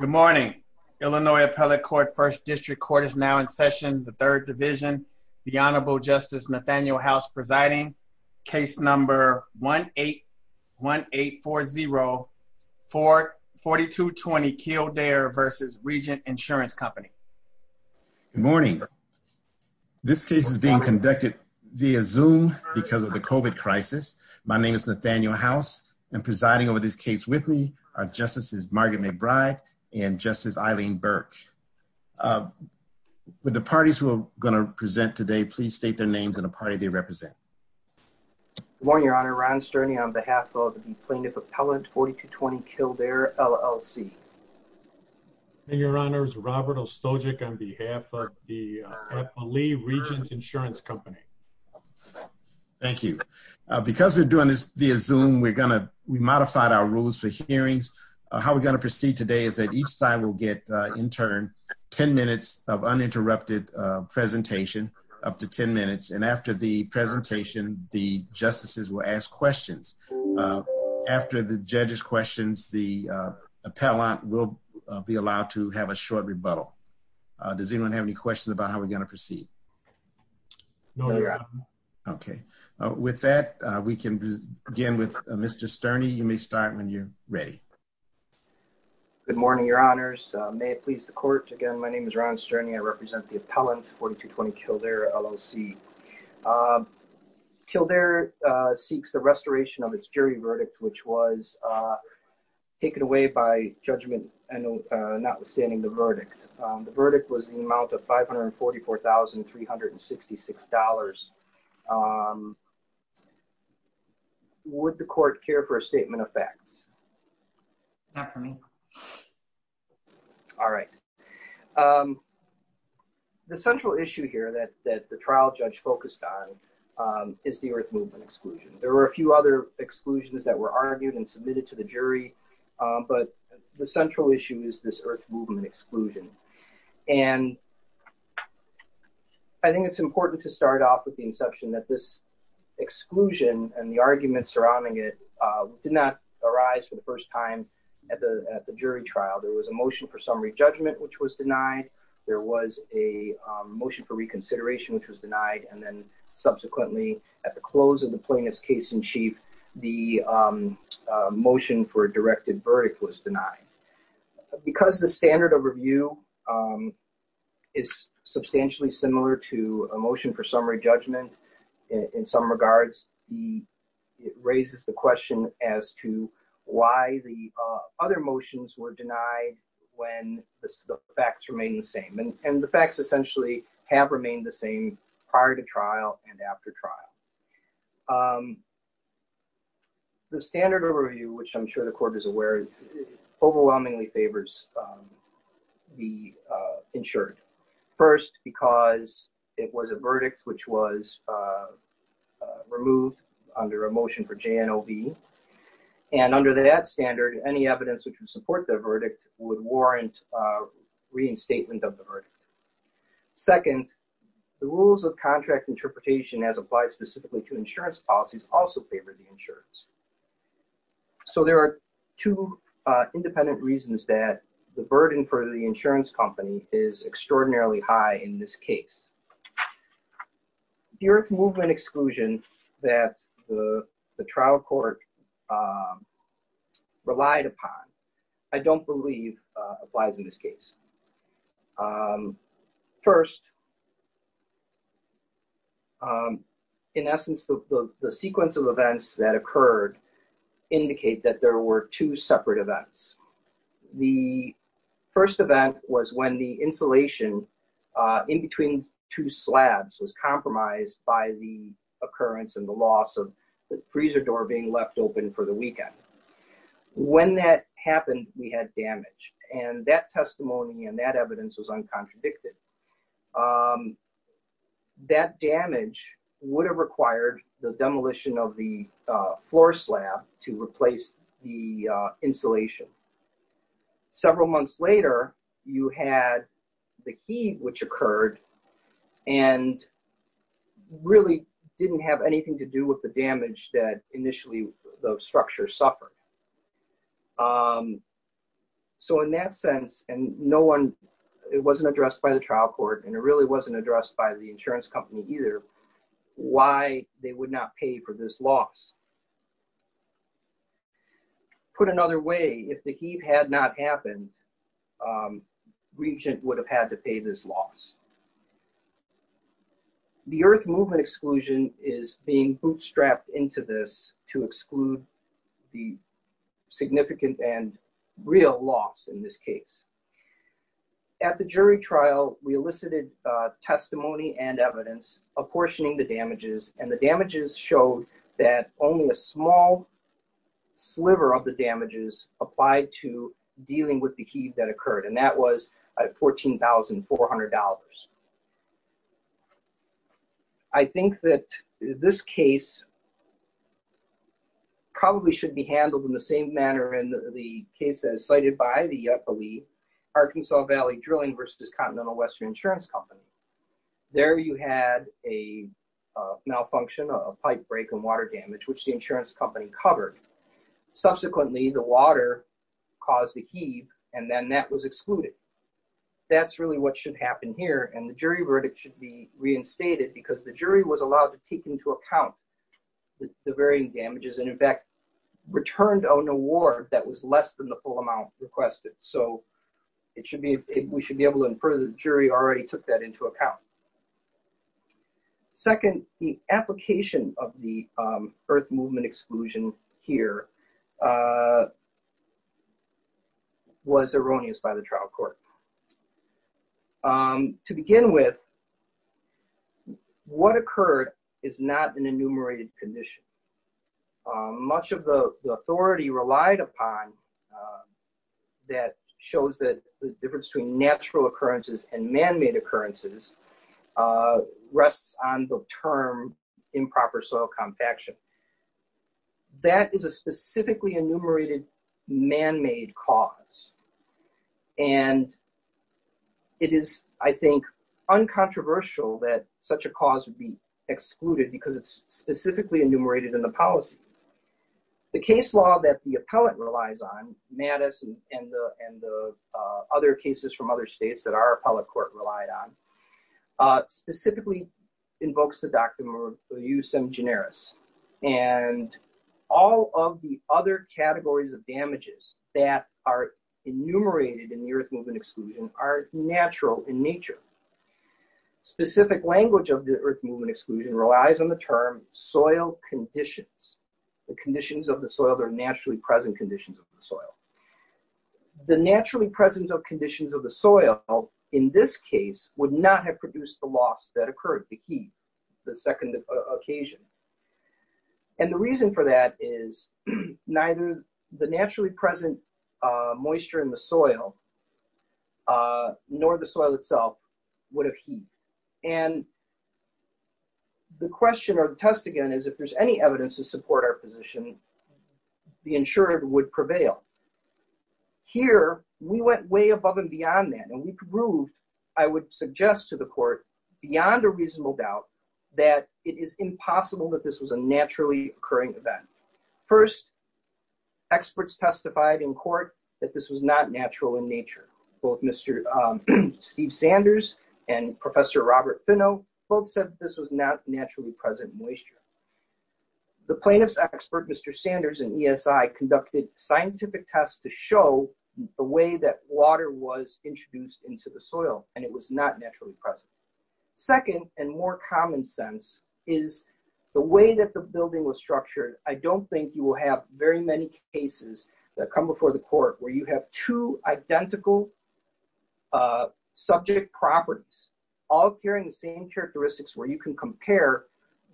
Good morning, Illinois Appellate Court, 1st District Court is now in session, the 3rd Division. The Honorable Justice Nathaniel House presiding, case number 1-8-1-8-4-0, 4220 Kildare v. Regent Insurance Company. Good morning, this case is being conducted via Zoom because of the COVID crisis. My name is Nathaniel House, I'm presiding over this case with me. Our Justice is Margaret McBride and Justice Eileen Burke. With the parties who are going to present today, please state their names and the party they represent. Good morning, Your Honor, Ron Sterney on behalf of the Plaintiff Appellate, 4220 Kildare LLC. Good morning, Your Honors, Robert Ostojik on behalf of the Appellee Regent Insurance Company. Thank you. Because we're doing this via Zoom, we modified our rules for hearings. How we're going to proceed today is that each side will get, in turn, 10 minutes of uninterrupted presentation, up to 10 minutes, and after the presentation, the justices will ask questions. After the judges' questions, the appellant will be allowed to have a short rebuttal. Does anyone have any questions about how we're going to proceed? No, Your Honor. Okay. With that, we can begin with Mr. Sterney. You may start when you're ready. Good morning, Your Honors. May it please the Court, again, my name is Ron Sterney, I represent the Appellant, 4220 Kildare LLC. Kildare seeks the restoration of its jury verdict, which was taken away by judgment and notwithstanding the verdict. The verdict was the amount of $544,366. Would the Court care for a statement of facts? Not for me. All right. The central issue here that the trial judge focused on is the Earth Movement exclusion. There were a few other exclusions that were argued and submitted to the jury, but the And I think it's important to start off with the inception that this exclusion and the argument surrounding it did not arise for the first time at the jury trial. There was a motion for summary judgment, which was denied. There was a motion for reconsideration, which was denied. And then subsequently, at the close of the plaintiff's case in chief, the motion for a directed verdict was denied. Because the standard overview is substantially similar to a motion for summary judgment in some regards, it raises the question as to why the other motions were denied when the facts remain the same. And the facts essentially have remained the same prior to trial and after trial. The standard overview, which I'm sure the Court is aware of, overwhelmingly favors the insured. First, because it was a verdict which was removed under a motion for JNOB. And under that standard, any evidence which would support the verdict would warrant a reinstatement of the verdict. Second, the rules of contract interpretation, as applied specifically to insurance policies, also favor the insurers. So there are two independent reasons that the burden for the insurance company is extraordinarily high in this case. Deerick movement exclusion that the trial court relied upon, I don't believe, applies in this case. First, in essence, the sequence of events that occurred indicate that there were two separate events. The first event was when the insulation in between two slabs was compromised by the occurrence and the loss of the freezer door being left open for the weekend. When that happened, we had damage. And that testimony and that evidence was uncontradicted. That damage would have required the demolition of the floor slab to replace the insulation. Several months later, you had the heat which occurred and really didn't have anything to do with the damage that initially the structure suffered. So in that sense, and no one, it wasn't addressed by the trial court, and it really wasn't addressed by the insurance company either, why they would not pay for this loss. Put another way, if the heat had not happened, Regent would have had to pay this loss. The earth movement exclusion is being bootstrapped into this to exclude the significant and real loss in this case. At the jury trial, we elicited testimony and evidence apportioning the damages, and the damages showed that only a small sliver of the damages applied to dealing with the heat that occurred. And that was $14,400. I think that this case probably should be handled in the same manner in the case that is cited by the, I believe, Arkansas Valley Drilling versus Continental Western Insurance Company. There you had a malfunction, a pipe break and water damage, which the insurance company covered. Subsequently, the water caused a heave, and then that was excluded. That's really what should happen here, and the jury verdict should be reinstated because the jury was allowed to take into account the varying damages, and in fact, returned on a war that was less than the full amount requested. So we should be able to infer that the jury already took that into account. Second, the application of the earth movement exclusion here was erroneous by the trial court. To begin with, what occurred is not an enumerated condition. Much of the authority relied upon that shows that the difference between natural occurrences and man-made occurrences rests on the term improper soil compaction. That is a specifically enumerated man-made cause, and it is, I think, uncontroversial that such a cause would be excluded because it's specifically enumerated in the policy. The case law that the appellant relies on, Mattis and the other cases from other states that our appellate court relied on, specifically invokes the Doctrine Reus Sem Generis, and all of the other categories of damages that are enumerated in the earth movement exclusion are natural in nature. Specific language of the earth movement exclusion relies on the term soil conditions, the conditions of the soil that are naturally present conditions of the soil. The naturally present conditions of the soil, in this case, would not have produced the loss that occurred, the heat, the second occasion. And the reason for that is neither the naturally present moisture in the soil, nor the soil itself, would have heat. And the question or the test, again, is if there's any evidence to support our position, the insured would prevail. Here, we went way above and beyond that. And we proved, I would suggest to the court, beyond a reasonable doubt, that it is impossible that this was a naturally occurring event. First, experts testified in court that this was not natural in nature. Both Mr. Steve Sanders and Professor Robert Finnow both said this was not naturally present moisture. The plaintiff's expert, Mr. Sanders, in ESI, conducted scientific tests to show the way that water was introduced into the soil, and it was not naturally present. Second, and more common sense, is the way that the building was structured. I don't think you will have very many cases that come before the court where you have two identical subject properties, all carrying the same characteristics, where you can compare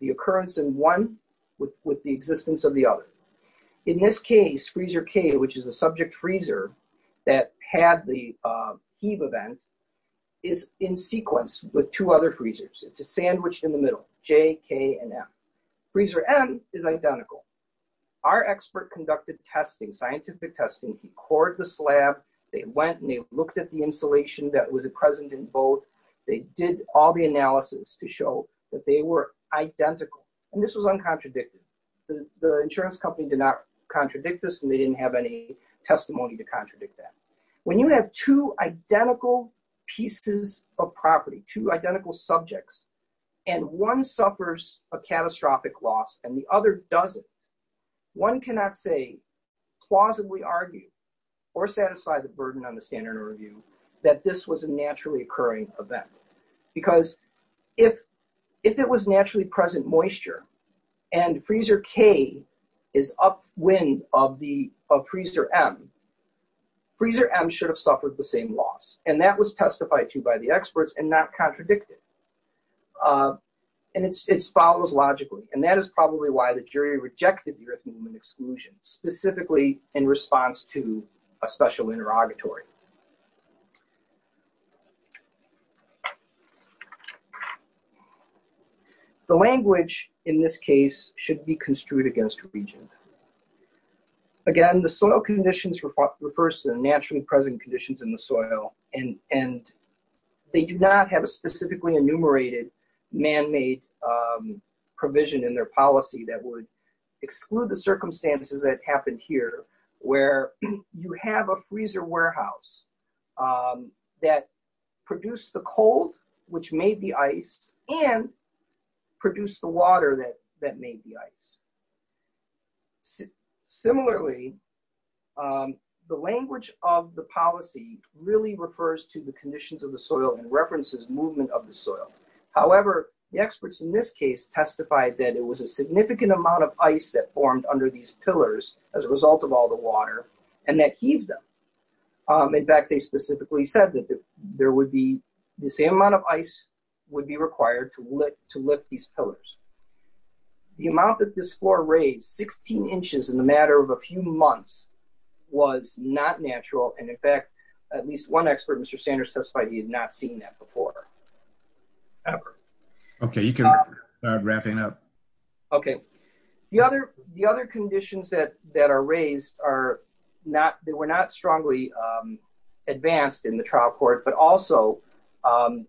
the occurrence in one with the existence of the other. In this case, freezer K, which is a subject freezer that had the heave event, is in sequence with two other freezers. It's a sandwich in the middle, J, K, and M. Freezer M is identical. Our expert conducted testing, scientific testing. He cored the slab. They went and they looked at the insulation that was present in both. They did all the analysis to show that they were identical, and this was uncontradicted. The insurance company did not contradict this, and they didn't have any testimony to contradict that. When you have two identical pieces of property, two identical subjects, and one suffers a catastrophic loss and the other doesn't, one cannot say, plausibly argue, or satisfy the Because if it was naturally present moisture, and freezer K is upwind of freezer M, freezer M should have suffered the same loss, and that was testified to by the experts and not contradicted. And it follows logically, and that is probably why the jury rejected the Eritrean exclusion, specifically in response to a special interrogatory. The language, in this case, should be construed against region. Again, the soil conditions refers to the naturally present conditions in the soil, and they do not have a specifically enumerated man-made provision in their policy that would exclude the circumstances that happened here, where you have a freezer warehouse that produced the cold, which made the ice, and produced the water that made the ice. Similarly, the language of the policy really refers to the conditions of the soil and references movement of the soil. However, the experts in this case testified that it was a significant amount of ice that formed under these pillars as a result of all the water, and that heaved them. In fact, they specifically said that there would be the same amount of ice would be required to lift these pillars. The amount that this floor raised, 16 inches in the matter of a few months, was not natural, and in fact, at least one expert, Mr. Sanders, testified he had not seen that before, ever. Okay, you can wrap it up. Okay, the other conditions that are raised were not strongly advanced in the trial court, but also are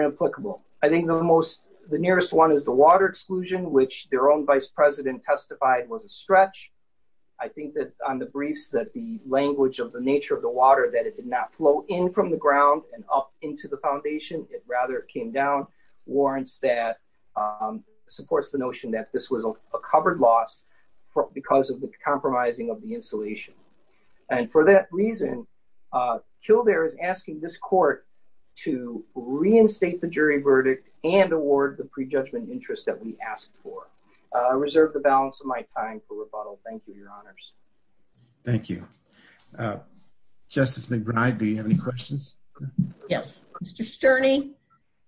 inapplicable. I think the nearest one is the water exclusion, which their own vice president testified was a stretch. I think that on the briefs that the language of the nature of the water, that it did not flow in from the ground and up into the foundation. It rather came down warrants that supports the notion that this was a covered loss because of the compromising of the insulation. And for that reason, Kildare is asking this court to reinstate the jury verdict and award the prejudgment interest that we asked for. Reserve the balance of my time for rebuttal. Thank you, your honors. Thank you. Justice McBride, do you have any questions? Yes. Mr. Sterni,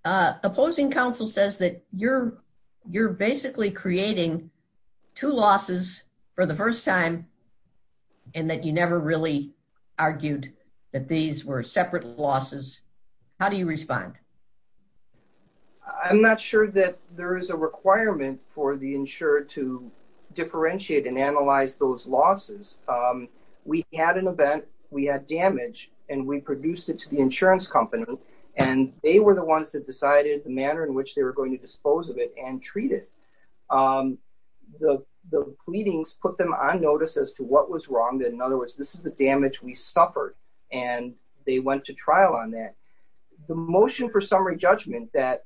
the opposing counsel says that you're basically creating two losses for the first time and that you never really argued that these were separate losses. How do you respond? I'm not sure that there is a requirement for the insurer to differentiate and analyze those losses. We had an event. We had damage and we produced it to the insurance company and they were the ones that decided the manner in which they were going to dispose of it and treat it. The pleadings put them on notice as to what was wrong. In other words, this is the damage we suffered and they went to trial on that. The motion for summary judgment that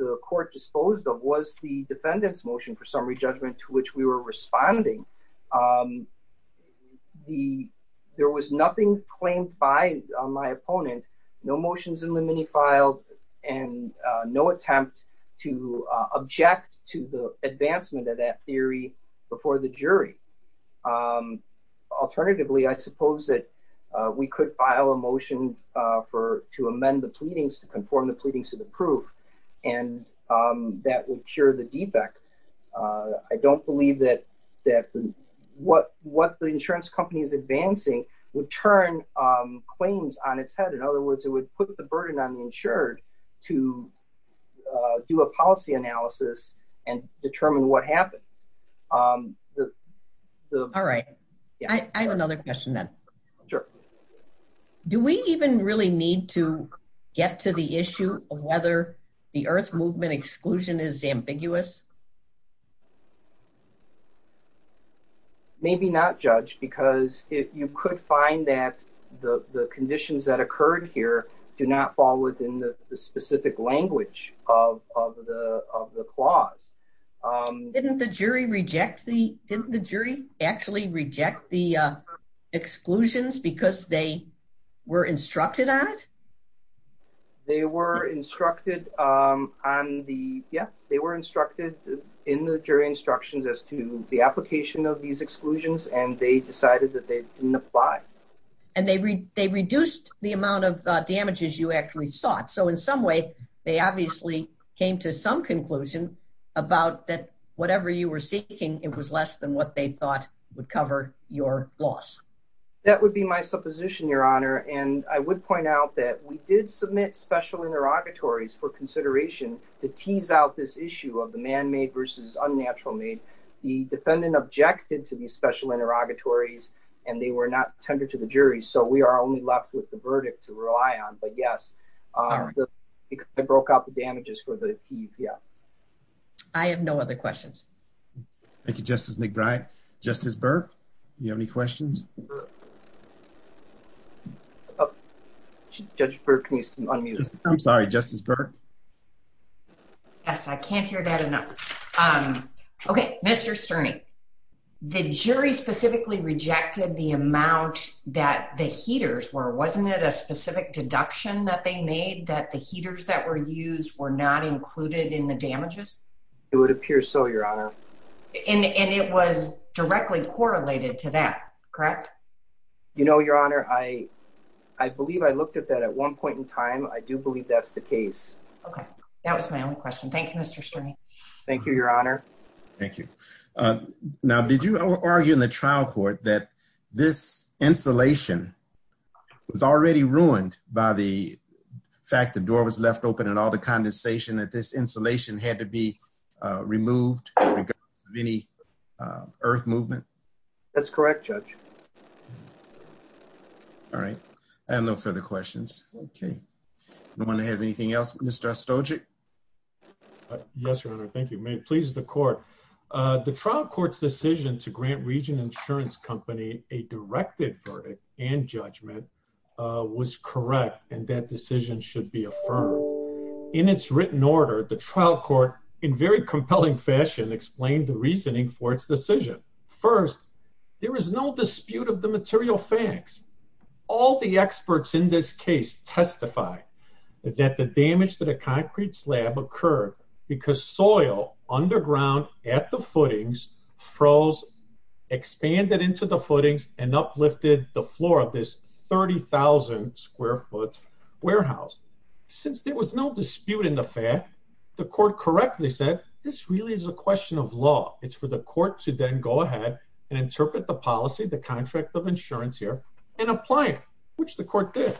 the court disposed of was the defendant's motion for summary judgment to which we were responding. The there was nothing claimed by my opponent. No motions in the mini file and no attempt to object to the advancement of that theory before the jury. Alternatively, I suppose that we could file a motion for to amend the pleadings to conform the pleadings to the proof and that would cure the defect. I don't believe that what the insurance company is advancing would turn claims on its head. In other words, it would put the burden on the insured to do a policy analysis and determine what happened. All right. I have another question then. Do we even really need to get to the issue of whether the Earth Movement exclusion is ambiguous? Maybe not, Judge, because you could find that the conditions that occurred here do not fall within the specific language of the clause. Didn't the jury actually reject the exclusions because they were instructed on it? They were instructed on the yeah, they were instructed in the jury instructions as to the application of these exclusions, and they decided that they didn't apply. And they they reduced the amount of damages you actually sought. So in some way, they obviously came to some conclusion about that whatever you were seeking, it was less than what they thought would cover your loss. That would be my supposition, Your Honor. And I would point out that we did submit special interrogatories for consideration to tease out this issue of the man made versus unnatural made. The defendant objected to these special interrogatories, and they were not tender to the jury. So we are only left with the verdict to rely on. But yes, I broke out the damages for the. I have no other questions. Thank you, Justice McBride. Justice Burke, you have any questions? Oh, Judge Burke needs to unmute. I'm sorry, Justice Burke. Yes, I can't hear that enough. Okay, Mr Sterni, the jury specifically rejected the amount that the heaters were. Wasn't it a specific deduction that they made that the heaters that were used were not included in the damages? It would appear so, Your Honor. And it was directly correlated to that, correct? You know, Your Honor, I believe I looked at that at one point in time. I do believe that's the case. Okay, that was my only question. Thank you, Mr Sterni. Thank you, Your Honor. Thank you. Now, did you argue in the trial court that this insulation was already ruined by the fact the door was left open and all the condensation that this insulation had to be removed in regards to any earth movement? That's correct, Judge. All right, I have no further questions. Okay, no one has anything else? Mr Stojic? Yes, Your Honor. Thank you. May it please the court. The trial court's decision to grant Regent Insurance Company a directed verdict and judgment was correct, and that decision should be affirmed. In its written order, the trial court, in very compelling fashion, explained the reasoning for its decision. First, there is no dispute of the material facts. All the experts in this case testify that the damage to the concrete slab occurred because soil underground at the footings froze, expanded into the footings, and uplifted the floor of this 30,000 square foot warehouse. Since there was no dispute in the fact, the court correctly said this really is a question of law. It's for the court to then go ahead and interpret the policy, the contract of insurance here, and apply it, which the court did.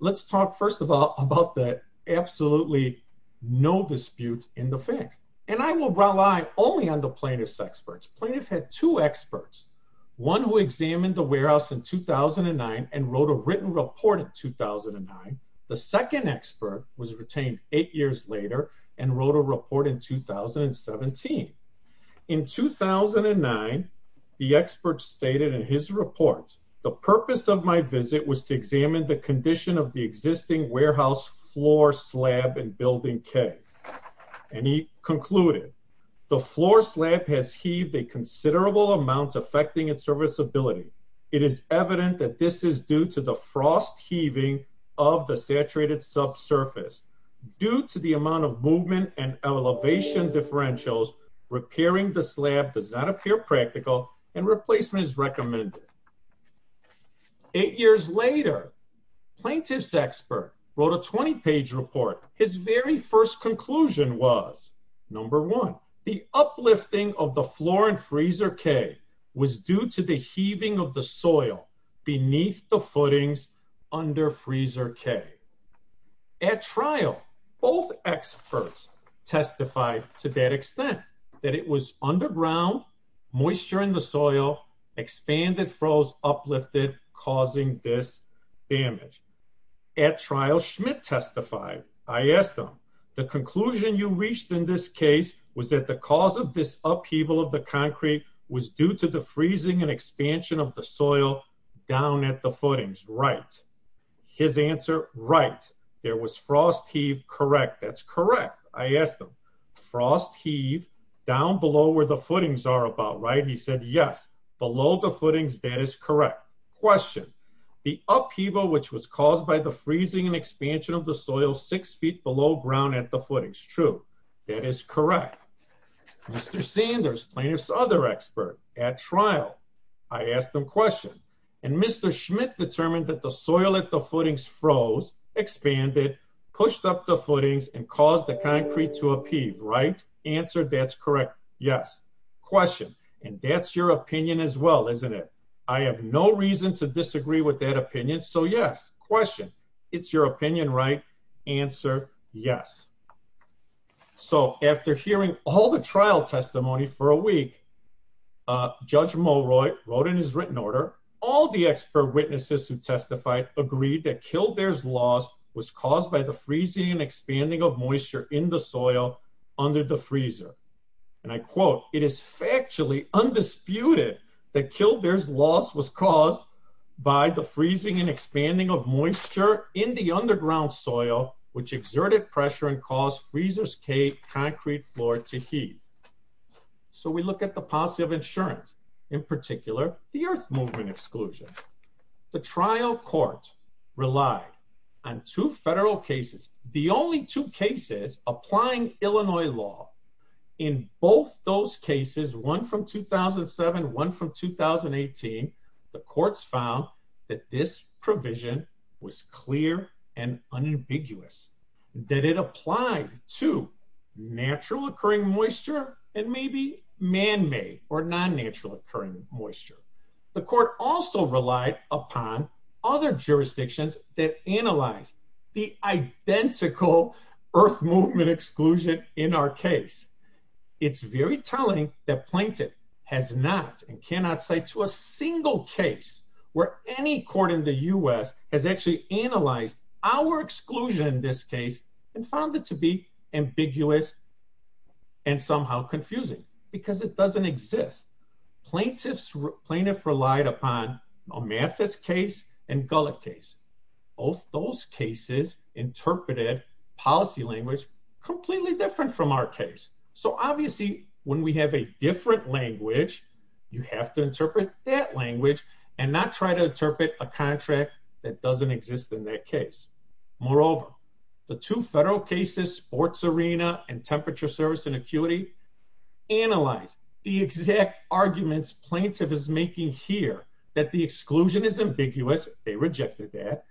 Let's talk, first of all, about that absolutely no dispute in the fact. And I will rely only on the plaintiff's experts. Plaintiff had two experts, one who examined the warehouse in 2009 and wrote a written report in 2009. The second expert was retained eight years later and wrote a report in 2017. In 2009, the expert stated in his report, the purpose of my visit was to examine the condition of the existing warehouse floor slab in Building K. And he concluded, the floor slab has heaved a considerable amount affecting its serviceability. It is evident that this is due to the frost heaving of the saturated subsurface. Due to the amount of movement and elevation differentials, repairing the slab does not appear practical and replacement is recommended. Eight years later, plaintiff's expert wrote a 20-page report. His very first conclusion was, number one, the uplifting of the floor in Freezer K was due to the heaving of the soil beneath the footings under Freezer K. At trial, both experts testified to that extent, that it was underground, moisture in the soil, expanded, froze, uplifted, causing this damage. At trial, Schmidt testified. I asked him, the conclusion you reached in this case was that the cause of this upheaval of the concrete was due to the freezing and expansion of the soil down at the footings, right? His answer, right. There was frost heave, correct. That's correct. I asked him, frost heave down below where the footings are about, right? He said, yes. Below the footings, that is correct. Question, the upheaval which was caused by the freezing and expansion of the soil six feet below ground at the footings, true? That is correct. Mr. Sanders, plaintiff's other expert, at trial, I asked him question. And Mr. Schmidt determined that the soil at the footings froze, expanded, pushed up the footings and caused the concrete to upheave, right? Answer, that's correct. Yes. Question, and that's your opinion as well, isn't it? I have no reason to disagree with that opinion. So yes, question, it's your opinion, right? Answer, yes. So after hearing all the trial testimony for a week, Judge Mulroy wrote in his written order, all the expert witnesses who testified agreed that Kildare's loss was caused by the freezing and expanding of moisture in the soil under the freezer. And I quote, it is factually undisputed that Kildare's loss was caused by the freezing and expanding of moisture in the underground soil, which exerted pressure and caused freezers cave concrete floor to heat. So we look at the policy of insurance, in particular, the Earth Movement Exclusion. The trial court relied on two federal cases, the only two cases applying Illinois law. In both those cases, one from 2007, one from 2018, the courts found that this provision was clear and unambiguous, that it applied to natural occurring moisture and maybe man-made or non-natural occurring moisture. The court also relied upon other jurisdictions that analyze the identical Earth Movement Exclusion in our case. It's very telling that plaintiff has not and cannot say to a single case where any court in the U.S. has actually analyzed our exclusion in this case and found it to be ambiguous and somehow confusing, because it doesn't exist. Plaintiff relied upon Omafis case and Gullet case. Both those cases interpreted policy language completely different from our case. So obviously, when we have a different language, you have to interpret that language and not try to interpret a contract that doesn't exist in that case. Moreover, the two federal cases, Sports Arena and Temperature Service and Acuity, analyze the exact arguments plaintiff is making here, that the exclusion is ambiguous. They rejected that.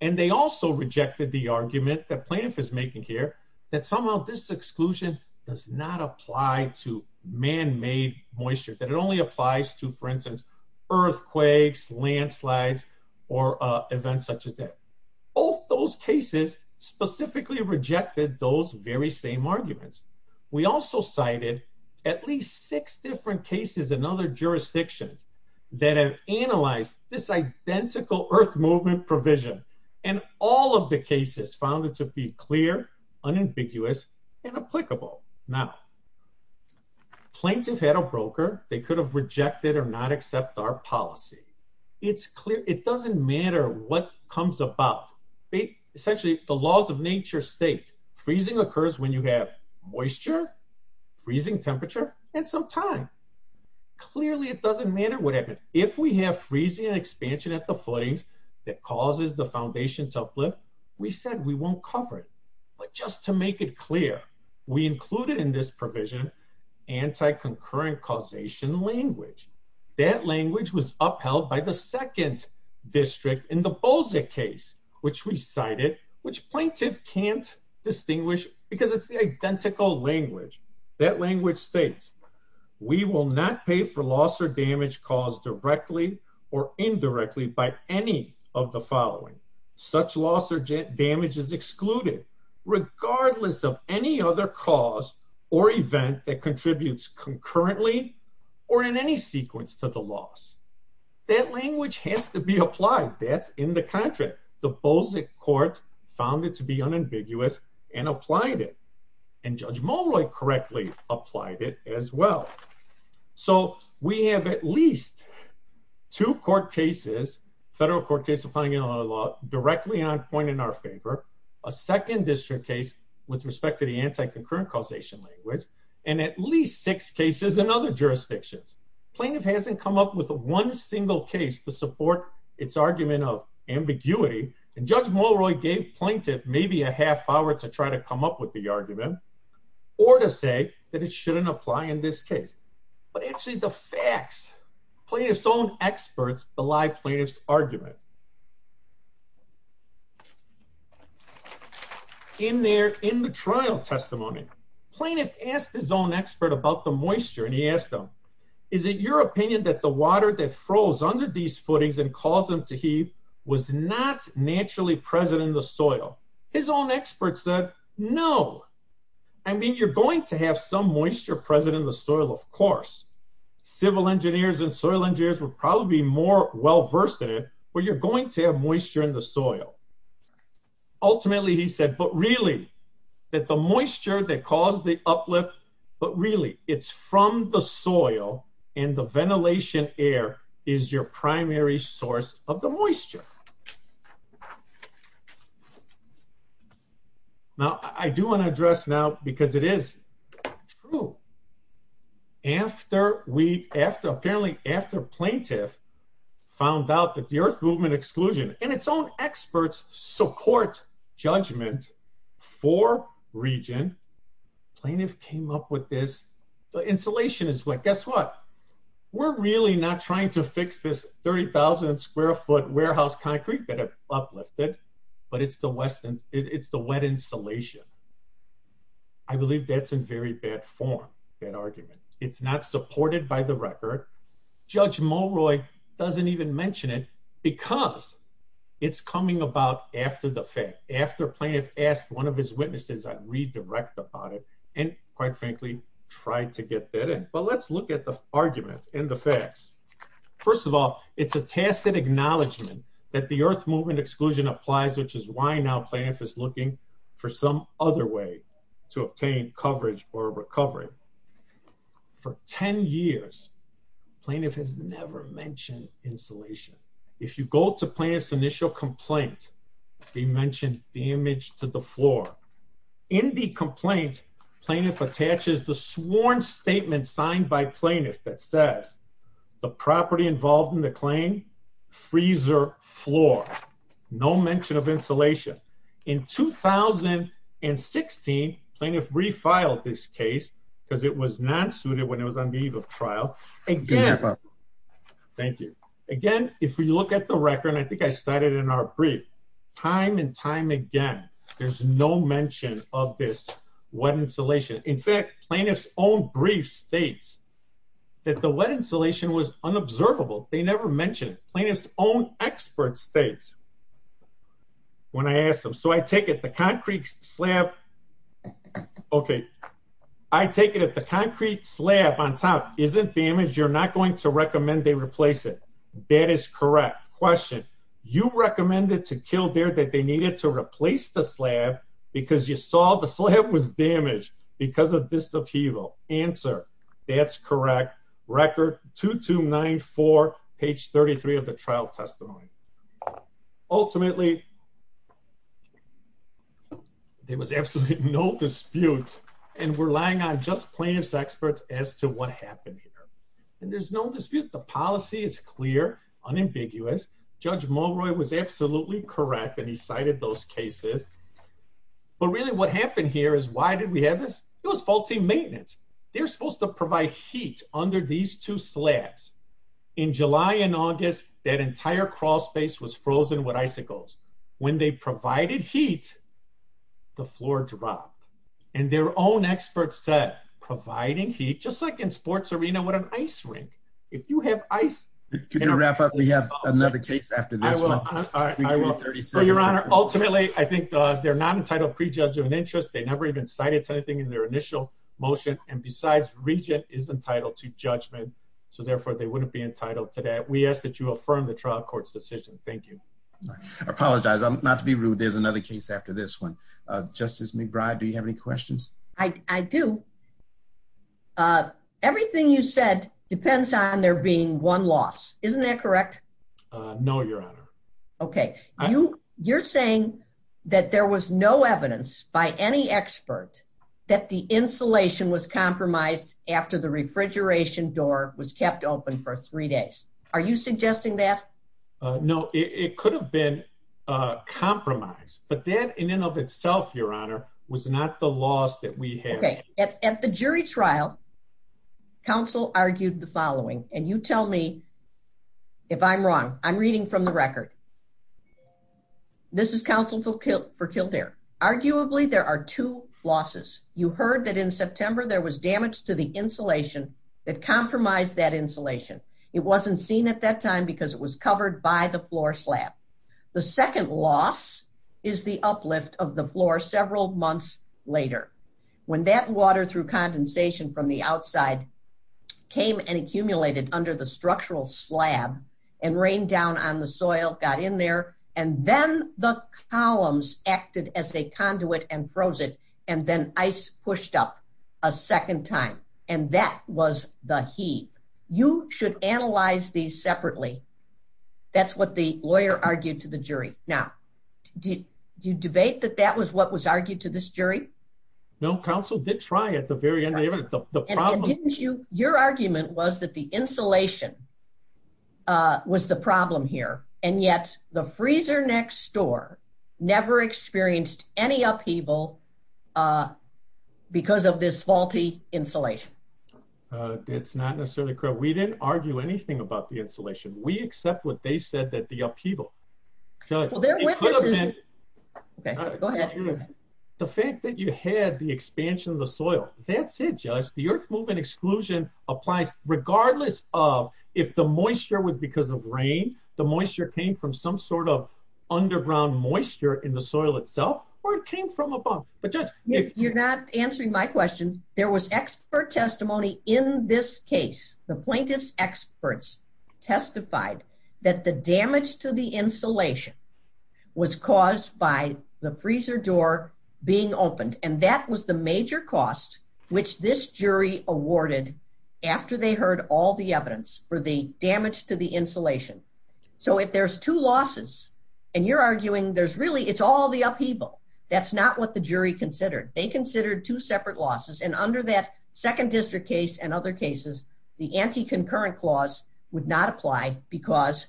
And they also rejected the argument that plaintiff is making here, that somehow this exclusion does not apply to man-made moisture, that it only applies to, for instance, earthquakes, landslides, or events such as that. Both those cases specifically rejected those very same arguments. We also cited at least six different cases in other jurisdictions that have analyzed this identical earth movement provision. And all of the cases found it to be clear, unambiguous, and applicable. Now, plaintiff had a broker. They could have rejected or not accept our policy. It doesn't matter what comes about. Essentially, the laws of nature state freezing occurs when you have moisture, freezing temperature, and some time. Clearly, it doesn't matter what happened. If we have freezing and expansion at the footings that causes the foundation to uplift, we said we won't cover it. But just to make it clear, we included in this provision, anti-concurrent causation language. That language was upheld by the second district in the Bolza case, which we cited, which plaintiff can't distinguish because it's the identical language. That language states, we will not pay for loss or damage caused directly or indirectly by any of the following. Such loss or damage is excluded regardless of any other cause or event that contributes concurrently or in any sequence to the loss. That language has to be applied. That's in the contract. The Bolza court found it to be unambiguous and applied it. And Judge Molroy correctly applied it as well. So we have at least two court cases, federal court case applying it on our law, directly on point in our favor, a second district case with respect to the anti-concurrent causation language, and at least six cases in other jurisdictions. Plaintiff hasn't come up with one single case to support its argument of ambiguity. And Judge Molroy gave plaintiff maybe a half hour to try to come up with the argument or to say that it shouldn't apply in this case. But actually the facts, plaintiff's own experts belie plaintiff's argument. In there, in the trial testimony, plaintiff asked his own expert about the moisture. And he asked them, is it your opinion that the water that froze under these footings and caused them to heave was not naturally present in the soil? His own expert said, no. I mean, you're going to have some moisture present in the soil, of course. Civil engineers and soil engineers would probably be more well-versed in it, but you're going to have moisture in the soil. Ultimately, he said, but really that the moisture that caused the uplift, but really it's from the soil and the ventilation air is your primary source of the moisture. Now, I do want to address now, because it is true. After we, after, apparently after plaintiff found out that the Earth Movement exclusion and its own experts support judgment for region, plaintiff came up with this, the insulation is wet. Guess what? We're really not trying to fix this 30,000 square foot warehouse concrete that have uplifted, but it's the wet insulation. I believe that's in very bad form, that argument. It's not supported by the record. Judge Mulroy doesn't even mention it because it's coming about after the fact. And quite frankly, tried to get that in. But let's look at the argument and the facts. First of all, it's a tacit acknowledgement that the Earth Movement exclusion applies, which is why now plaintiff is looking for some other way to obtain coverage or recovery. For 10 years, plaintiff has never mentioned insulation. If you go to plaintiff's initial complaint, they mentioned damage to the floor. In the complaint, plaintiff attaches the sworn statement signed by plaintiff that says, the property involved in the claim, freezer floor. No mention of insulation. In 2016, plaintiff refiled this case because it was not suited when it was on leave of trial. Again, thank you. Again, if you look at the record, and I think I cited in our brief, time and time again, there's no mention of this wet insulation. In fact, plaintiff's own brief states that the wet insulation was unobservable. They never mentioned it. Plaintiff's own expert states when I asked them, so I take it the concrete slab, okay, I take it if the concrete slab on top isn't damaged, you're not going to recommend they replace it. That is correct. Question. You recommended to Kildare that they needed to replace the slab because you saw the slab was damaged because of this upheaval. Answer. That's correct. Record 2294, page 33 of the trial testimony. Ultimately, there was absolutely no dispute, and we're relying on just plaintiff's experts as to what happened here. And there's no dispute. The policy is clear, unambiguous. Judge Mulroy was absolutely correct, and he cited those cases. But really what happened here is why did we have this? It was faulty maintenance. They're supposed to provide heat under these two slabs. In July and August, that entire crawl space was frozen with icicles. When they provided heat, the floor dropped. And their own experts said providing heat, just like in sports arena with an ice rink, if you have ice- Can you wrap up? We have another case after this one. I will, Your Honor. Ultimately, I think they're not entitled pre-judgment interest. They never even cited anything in their initial motion. And besides, Regent is entitled to judgment. So therefore, they wouldn't be entitled to that. We ask that you affirm the trial court's decision. Thank you. I apologize. Not to be rude. There's another case after this one. Justice McBride, do you have any questions? I do. Everything you said depends on there being one loss. Isn't that correct? No, Your Honor. Okay. You're saying that there was no evidence by any expert that the insulation was compromised after the refrigeration door was kept open for three days. Are you suggesting that? No, it could have been compromised. But that in and of itself, Your Honor, was not the loss that we had. Okay. At the jury trial, counsel argued the following. And you tell me if I'm wrong. I'm reading from the record. This is counsel for Kildare. Arguably, there are two losses. You heard that in September, there was damage to the insulation that compromised that insulation. It wasn't seen at that time because it was covered by the floor slab. The second loss is the uplift of the floor several months later. When that water through condensation from the outside came and accumulated under the structural slab and rained down on the soil, got in there, and then the columns acted as a conduit and froze it, and then ice pushed up a second time. And that was the heave. You should analyze these separately. That's what the lawyer argued to the jury. Now, do you debate that that was what was argued to this jury? No, counsel did try at the very end. Your argument was that the insulation was the problem here. And yet the freezer next door never experienced any upheaval because of this faulty insulation. It's not necessarily correct. We didn't argue anything about the insulation. We accept what they said, that the upheaval. Judge, the fact that you had the expansion of the soil, that's it, Judge. The earth movement exclusion applies regardless of if the moisture was because of rain, the moisture came from some sort of underground moisture in the soil itself, or it came from above. You're not answering my question. There was expert testimony in this case. The plaintiff's experts testified that the damage to the insulation was caused by the freezer door being opened. And that was the major cost, which this jury awarded after they heard all the evidence for the damage to the insulation. So if there's two losses, and you're arguing there's really, it's all the upheaval. That's not what the jury considered. They considered two separate losses. Under that second district case and other cases, the anti-concurrent clause would not apply because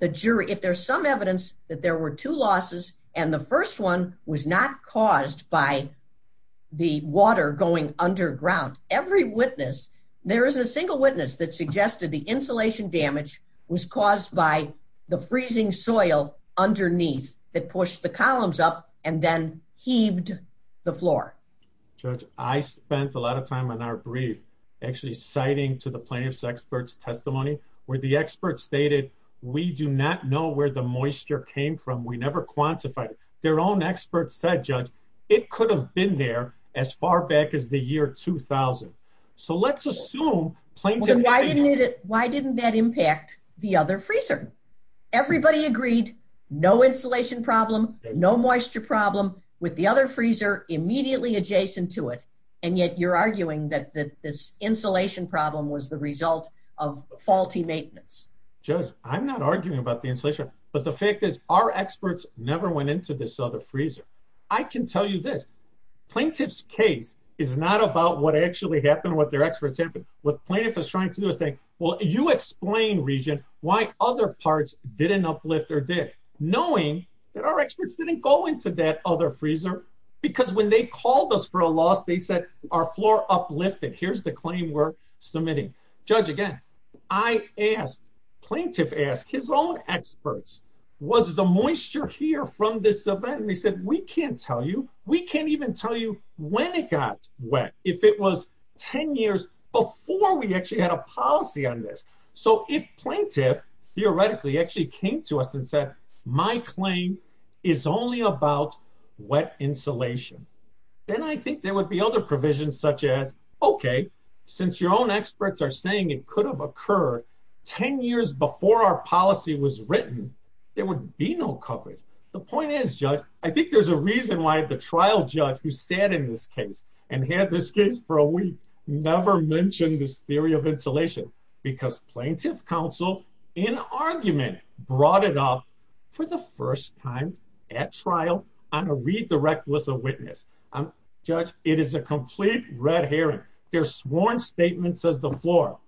the jury, if there's some evidence that there were two losses, and the first one was not caused by the water going underground, every witness, there isn't a single witness that suggested the insulation damage was caused by the freezing soil underneath that pushed the columns up and then heaved the floor. Judge, I spent a lot of time on our brief, actually citing to the plaintiff's experts testimony, where the experts stated, we do not know where the moisture came from. We never quantified it. Their own experts said, Judge, it could have been there as far back as the year 2000. So let's assume plaintiff- But why didn't it, why didn't that impact the other freezer? Everybody agreed, no insulation problem, no moisture problem with the other freezer, immediately adjacent to it, and yet you're arguing that this insulation problem was the result of faulty maintenance. Judge, I'm not arguing about the insulation, but the fact is our experts never went into this other freezer. I can tell you this, plaintiff's case is not about what actually happened, what their experts said, what plaintiff is trying to do is say, well, you explain, Regent, why other parts didn't uplift or did, knowing that our experts didn't go into that other freezer, because when they called us for a loss, they said our floor uplifted. Here's the claim we're submitting. Judge, again, I asked, plaintiff asked, his own experts, was the moisture here from this event? And they said, we can't tell you, we can't even tell you when it got wet, if it was 10 years before we actually had a policy on this. So if plaintiff theoretically actually came to us and said, my claim is only about wet insulation, then I think there would be other provisions such as, okay, since your own experts are saying it could have occurred 10 years before our policy was written, there would be no coverage. The point is, Judge, I think there's a reason why the trial judge who sat in this case and had this case for a week never mentioned this theory of insulation, because plaintiff counsel in argument brought it up for the first time at trial on a redirect with a witness. Judge, it is a complete red herring. Their sworn statement says the floor.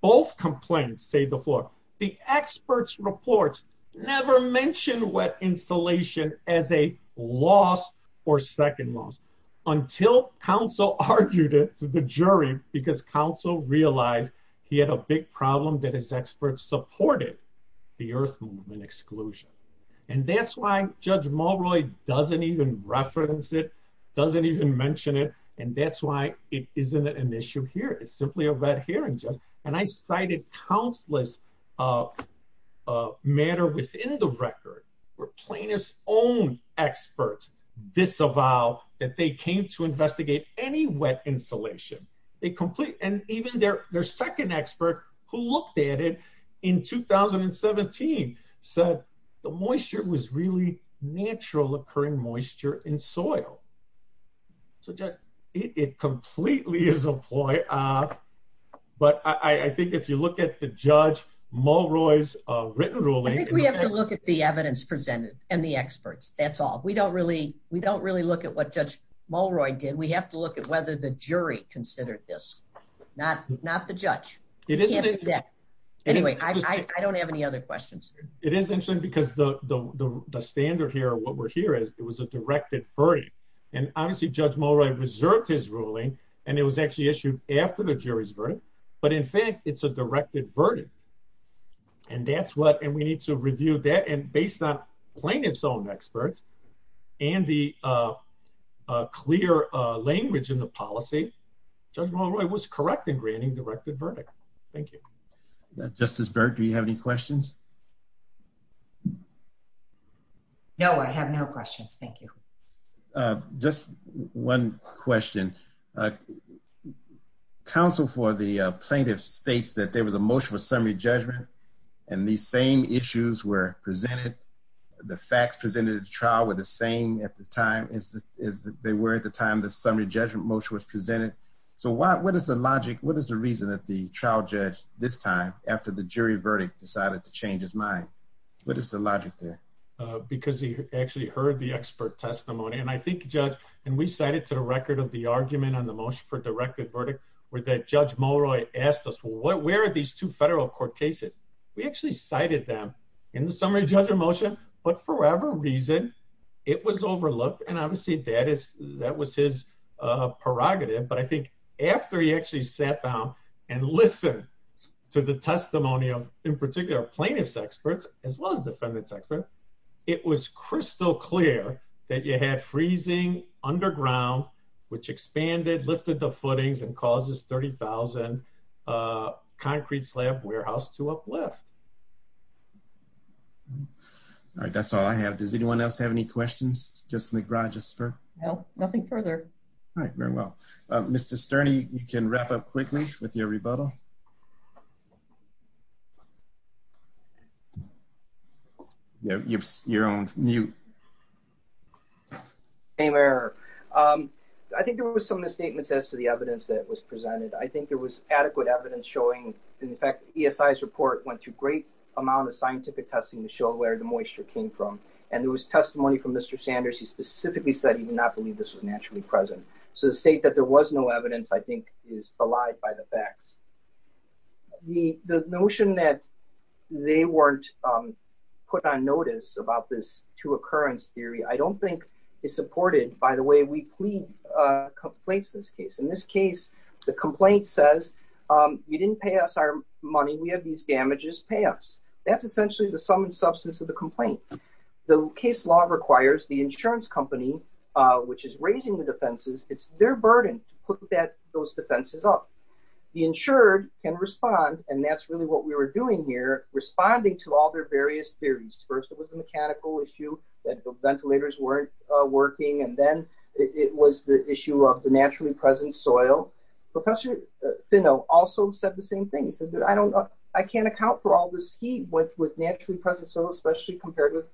Both complaints say the floor. The experts' reports never mentioned wet insulation as a loss or second loss, until counsel argued it to the jury, because counsel realized he had a big problem that his experts supported. The Earth Movement exclusion. And that's why Judge Mulroy doesn't even reference it, doesn't even mention it. And that's why it isn't an issue here. It's simply a red herring, Judge. And I cited countless matter within the record where plaintiff's own experts disavow that they came to investigate any wet insulation. They complete, and even their second expert who looked at it in 2017 said, the moisture was really natural occurring moisture in soil. So Judge, it completely is a ploy. But I think if you look at the Judge Mulroy's written ruling. I think we have to look at the evidence presented and the experts, that's all. We don't really look at what Judge Mulroy did. We have to look at whether the jury considered this, not the judge. It isn't that. Anyway, I don't have any other questions. It is interesting because the standard here, what we're here as it was a directed verdict. And honestly, Judge Mulroy reserved his ruling and it was actually issued after the jury's verdict. But in fact, it's a directed verdict. And that's what, and we need to review that. And based on plaintiff's own experts and the clear language in the policy, Judge Mulroy was correct in granting directed verdict. Thank you. Justice Burke, do you have any questions? No, I have no questions. Thank you. Just one question. Counsel for the plaintiff states that there was a motion for summary judgment and the same issues were presented. The facts presented at the trial were the same at the time as they were at the time the summary judgment motion was presented. So what is the logic? What is the reason that the trial judge this time after the jury verdict decided to change his mind? What is the logic there? Because he actually heard the expert testimony. And I think Judge, and we cited to the record of the argument on the motion for directed verdict where that Judge Mulroy asked us, where are these two federal court cases? We actually cited them in the summary judgment motion, but for whatever reason, it was overlooked. And obviously that was his prerogative. But I think after he actually sat down and listened to the testimonial, in particular plaintiff's experts, as well as defendants expert, it was crystal clear that you had freezing underground, which expanded, lifted the footings and causes 30,000 concrete slab warehouse to uplift. All right, that's all I have. Does anyone else have any questions? Justice McRogers for? No, nothing further. All right, very well. Mr. Sterny, you can wrap up quickly with your rebuttal. You've your own mute. Hey Mayor, I think there was some misstatements as to the evidence that was presented. I think there was adequate evidence showing. In fact, ESI's report went through great amount of scientific testing to show where the moisture came from. And there was testimony from Mr. Sanders. He specifically said he did not believe this was naturally present. So the state that there was no evidence, I think is belied by the facts. The notion that they weren't put on notice about this to occurrence theory, I don't think is supported by the way we plead complaints in this case. In this case, the complaint says, you didn't pay us our money. We have these damages, pay us. That's essentially the sum and substance of the complaint. The case law requires the insurance company, which is raising the defenses. It's their burden to put those defenses up. The insured can respond. And that's really what we were doing here, responding to all their various theories. First, it was a mechanical issue that the ventilators weren't working. And then it was the issue of the naturally present soil. Professor Fino also said the same thing. He said, I can't account for all this heat with naturally present soil, especially compared with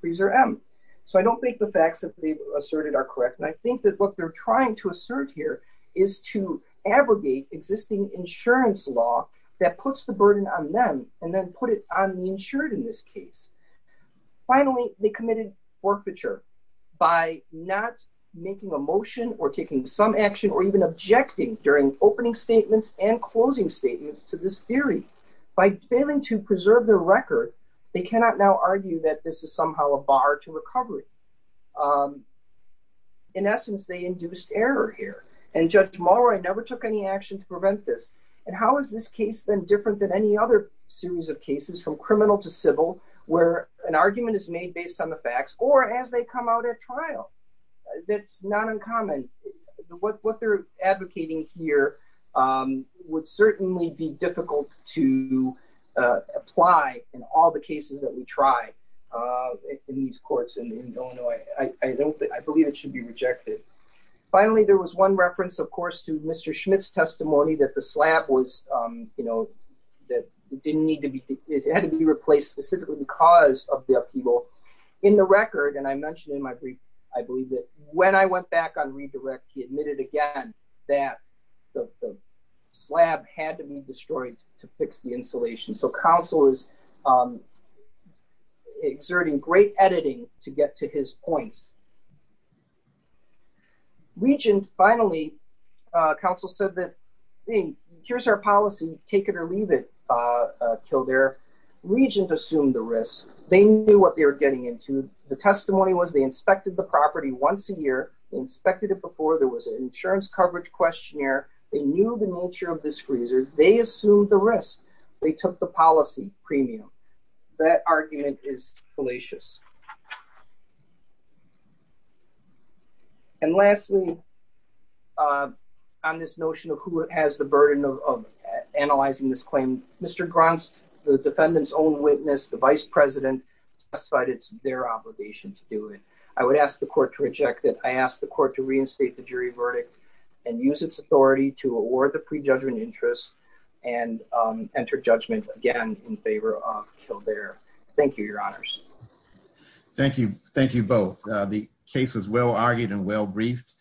freezer M. So I don't think the facts that they've asserted are correct. And I think that what they're trying to assert here is to abrogate existing insurance law that puts the burden on them and then put it on the insured in this case. Finally, they committed forfeiture by not making a motion or taking some action or even objecting during opening statements and closing statements to this theory. By failing to preserve their record, they cannot now argue that this is somehow a bar to recovery. In essence, they induced error here. And Judge Morrow, I never took any action to prevent this. And how is this case then different than any other series of cases from criminal to civil, where an argument is made based on the facts or as they come out at trial? That's not uncommon. What they're advocating here would certainly be difficult to apply in all the cases that we try in these courts in Illinois. I believe it should be rejected. Finally, there was one reference, of course, to Mr. Schmidt's testimony that the slab was, that it didn't need to be, it had to be replaced specifically because of the upheaval. In the record, and I mentioned in my brief, I believe that when I went back on redirect, he admitted again that the slab had to be destroyed to fix the insulation. So counsel is exerting great editing to get to his points. Regent, finally, counsel said that, here's our policy, take it or leave it, Kildare. Regent assumed the risk. They knew what they were getting into. The testimony was they inspected the property once a year, they inspected it before. There was an insurance coverage questionnaire. They knew the nature of this freezer. They assumed the risk. They took the policy premium. That argument is fallacious. And lastly, on this notion of who has the burden of analyzing this claim, Mr. Gronst, the defendant's own witness, the vice president testified it's their obligation to do it. I would ask the court to reject it. I ask the court to reinstate the jury verdict and use its authority to award the prejudgment interest and enter judgment again in favor of Kildare. Thank you, your honors. Thank you. Thank you both. The case was well-argued and well-briefed.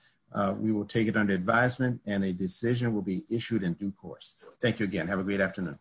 We will take it under advisement and a decision will be issued in due course. Thank you again. Have a great afternoon.